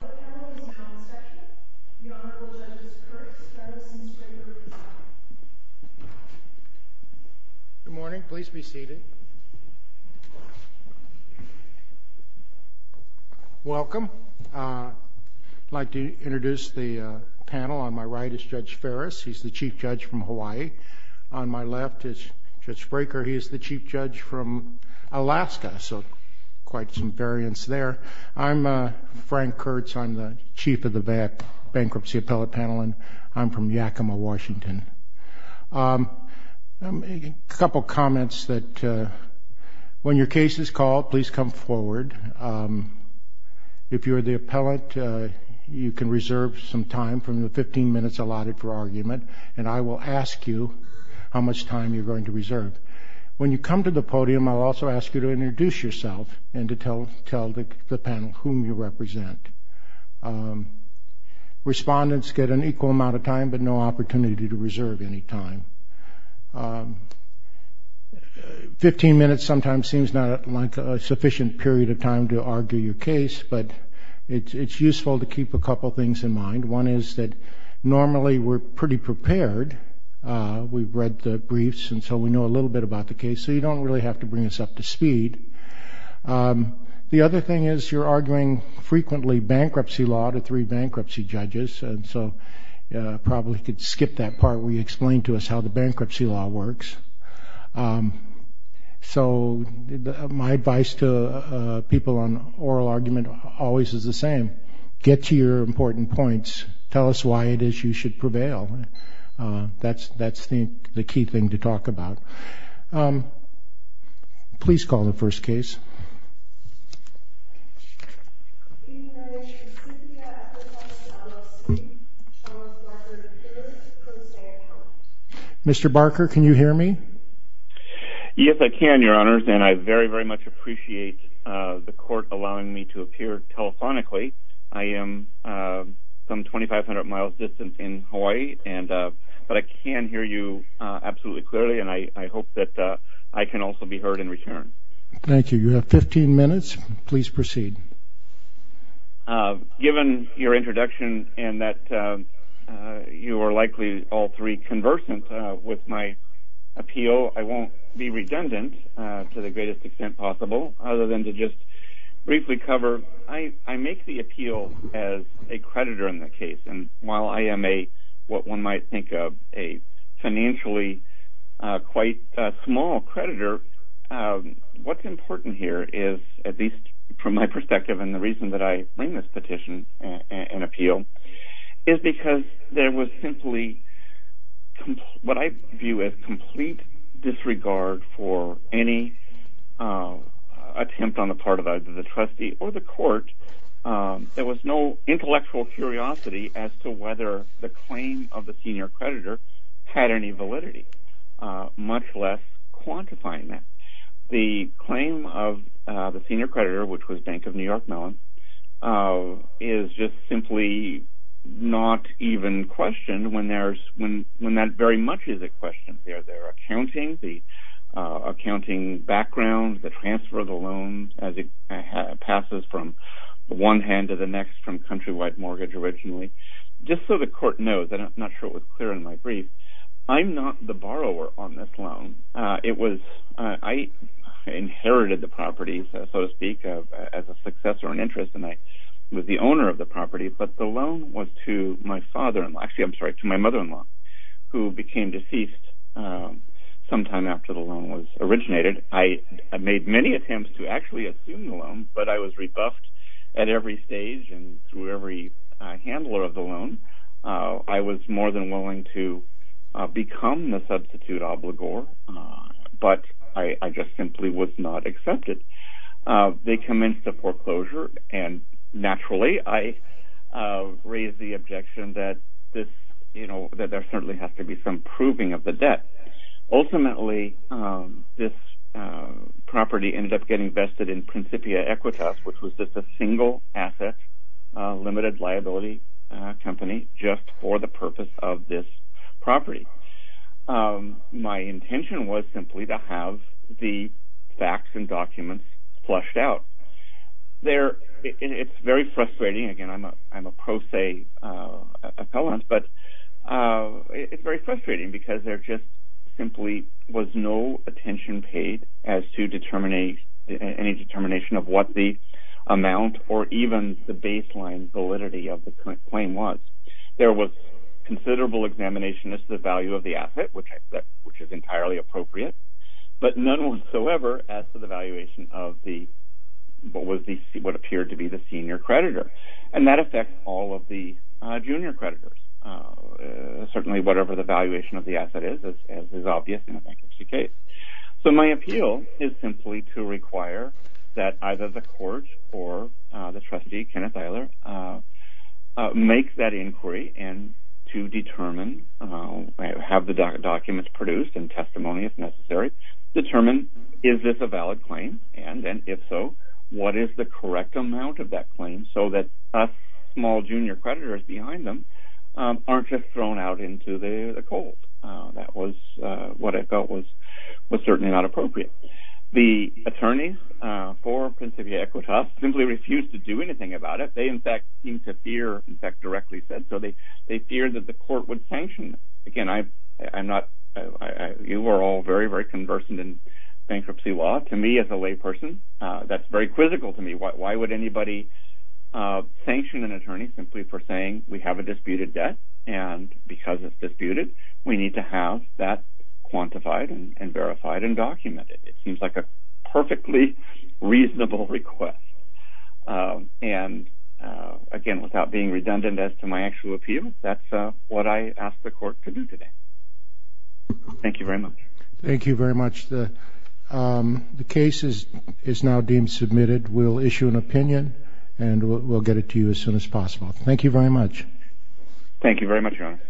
The panel is now in session. The Honorable Judges Kurtz, Ferris, and Spraker will be talking. Good morning. Please be seated. Welcome. I'd like to introduce the panel. On my right is Judge Ferris. He's the Chief Judge from Hawaii. On my left is Judge Spraker. He is the Chief Judge from Alaska, so quite some variance there. I'm Frank Kurtz. I'm the Chief of the Bankruptcy Appellate Panel, and I'm from Yakima, Washington. A couple comments that when your case is called, please come forward. If you're the appellate, you can reserve some time from the 15 minutes allotted for argument, and I will ask you how much time you're going to reserve. But when you come to the podium, I'll also ask you to introduce yourself and to tell the panel whom you represent. Respondents get an equal amount of time but no opportunity to reserve any time. Fifteen minutes sometimes seems not like a sufficient period of time to argue your case, but it's useful to keep a couple things in mind. One is that normally we're pretty prepared. We've read the briefs, and so we know a little bit about the case, so you don't really have to bring us up to speed. The other thing is you're arguing frequently bankruptcy law to three bankruptcy judges, and so probably could skip that part where you explain to us how the bankruptcy law works. So my advice to people on oral argument always is the same. Get to your important points. Tell us why it is you should prevail. That's the key thing to talk about. Please call the first case. Mr. Barker, can you hear me? Yes, I can, Your Honors, and I very, very much appreciate the court allowing me to appear telephonically. I am some 2,500 miles distant in Hawaii, but I can hear you absolutely clearly, and I hope that I can also be heard in return. Thank you. You have 15 minutes. Please proceed. Given your introduction and that you are likely all three conversant with my appeal, I won't be redundant to the greatest extent possible other than to just briefly cover. I make the appeal as a creditor in the case, and while I am what one might think of a financially quite small creditor, what's important here is, at least from my perspective and the reason that I bring this petition and appeal, is because there was simply what I view as complete disregard for any attempt on the part of either the trustee or the court. There was no intellectual curiosity as to whether the claim of the senior creditor had any validity, much less quantifying that. The claim of the senior creditor, which was Bank of New York Mellon, is just simply not even questioned when that very much is at question there. Their accounting, the accounting background, the transfer of the loan as it passes from one hand to the next from countrywide mortgage originally. Just so the court knows, and I'm not sure it was clear in my brief, I'm not the borrower on this loan. I inherited the property, so to speak, as a success or an interest, and I was the owner of the property, but the loan was to my mother-in-law, who became deceased sometime after the loan was originated. I made many attempts to actually assume the loan, but I was rebuffed at every stage and through every handler of the loan. I was more than willing to become the substitute obligor, but I just simply was not accepted. They commenced the foreclosure, and naturally I raised the objection that there certainly has to be some proving of the debt. Ultimately, this property ended up getting vested in Principia Equitas, which was just a single asset limited liability company just for the purpose of this property. My intention was simply to have the facts and documents flushed out. It's very frustrating. Again, I'm a pro se appellant, but it's very frustrating because there just simply was no attention paid as to any determination of what the amount or even the baseline validity of the claim was. There was considerable examination as to the value of the asset, which is entirely appropriate, but none whatsoever as to the valuation of what appeared to be the senior creditor. That affects all of the junior creditors. Certainly, whatever the valuation of the asset is is obvious in a bankruptcy case. My appeal is simply to require that either the court or the trustee, Kenneth Eiler, make that inquiry and to determine, have the documents produced and testimony if necessary, determine is this a valid claim, and then if so, what is the correct amount of that claim so that us small junior creditors behind them aren't just thrown out into the cold. That was what I felt was certainly not appropriate. The attorneys for Principia Equitas simply refused to do anything about it. They, in fact, seemed to fear, in fact, directly said so. They feared that the court would sanction them. Again, you are all very, very conversant in bankruptcy law. To me as a layperson, that's very quizzical to me. Why would anybody sanction an attorney simply for saying we have a disputed debt and because it's disputed, we need to have that quantified and verified and documented? It seems like a perfectly reasonable request. Again, without being redundant as to my actual appeal, that's what I asked the court to do today. Thank you very much. Thank you very much. The case is now deemed submitted. We'll issue an opinion, and we'll get it to you as soon as possible. Thank you very much. Thank you very much, Your Honor.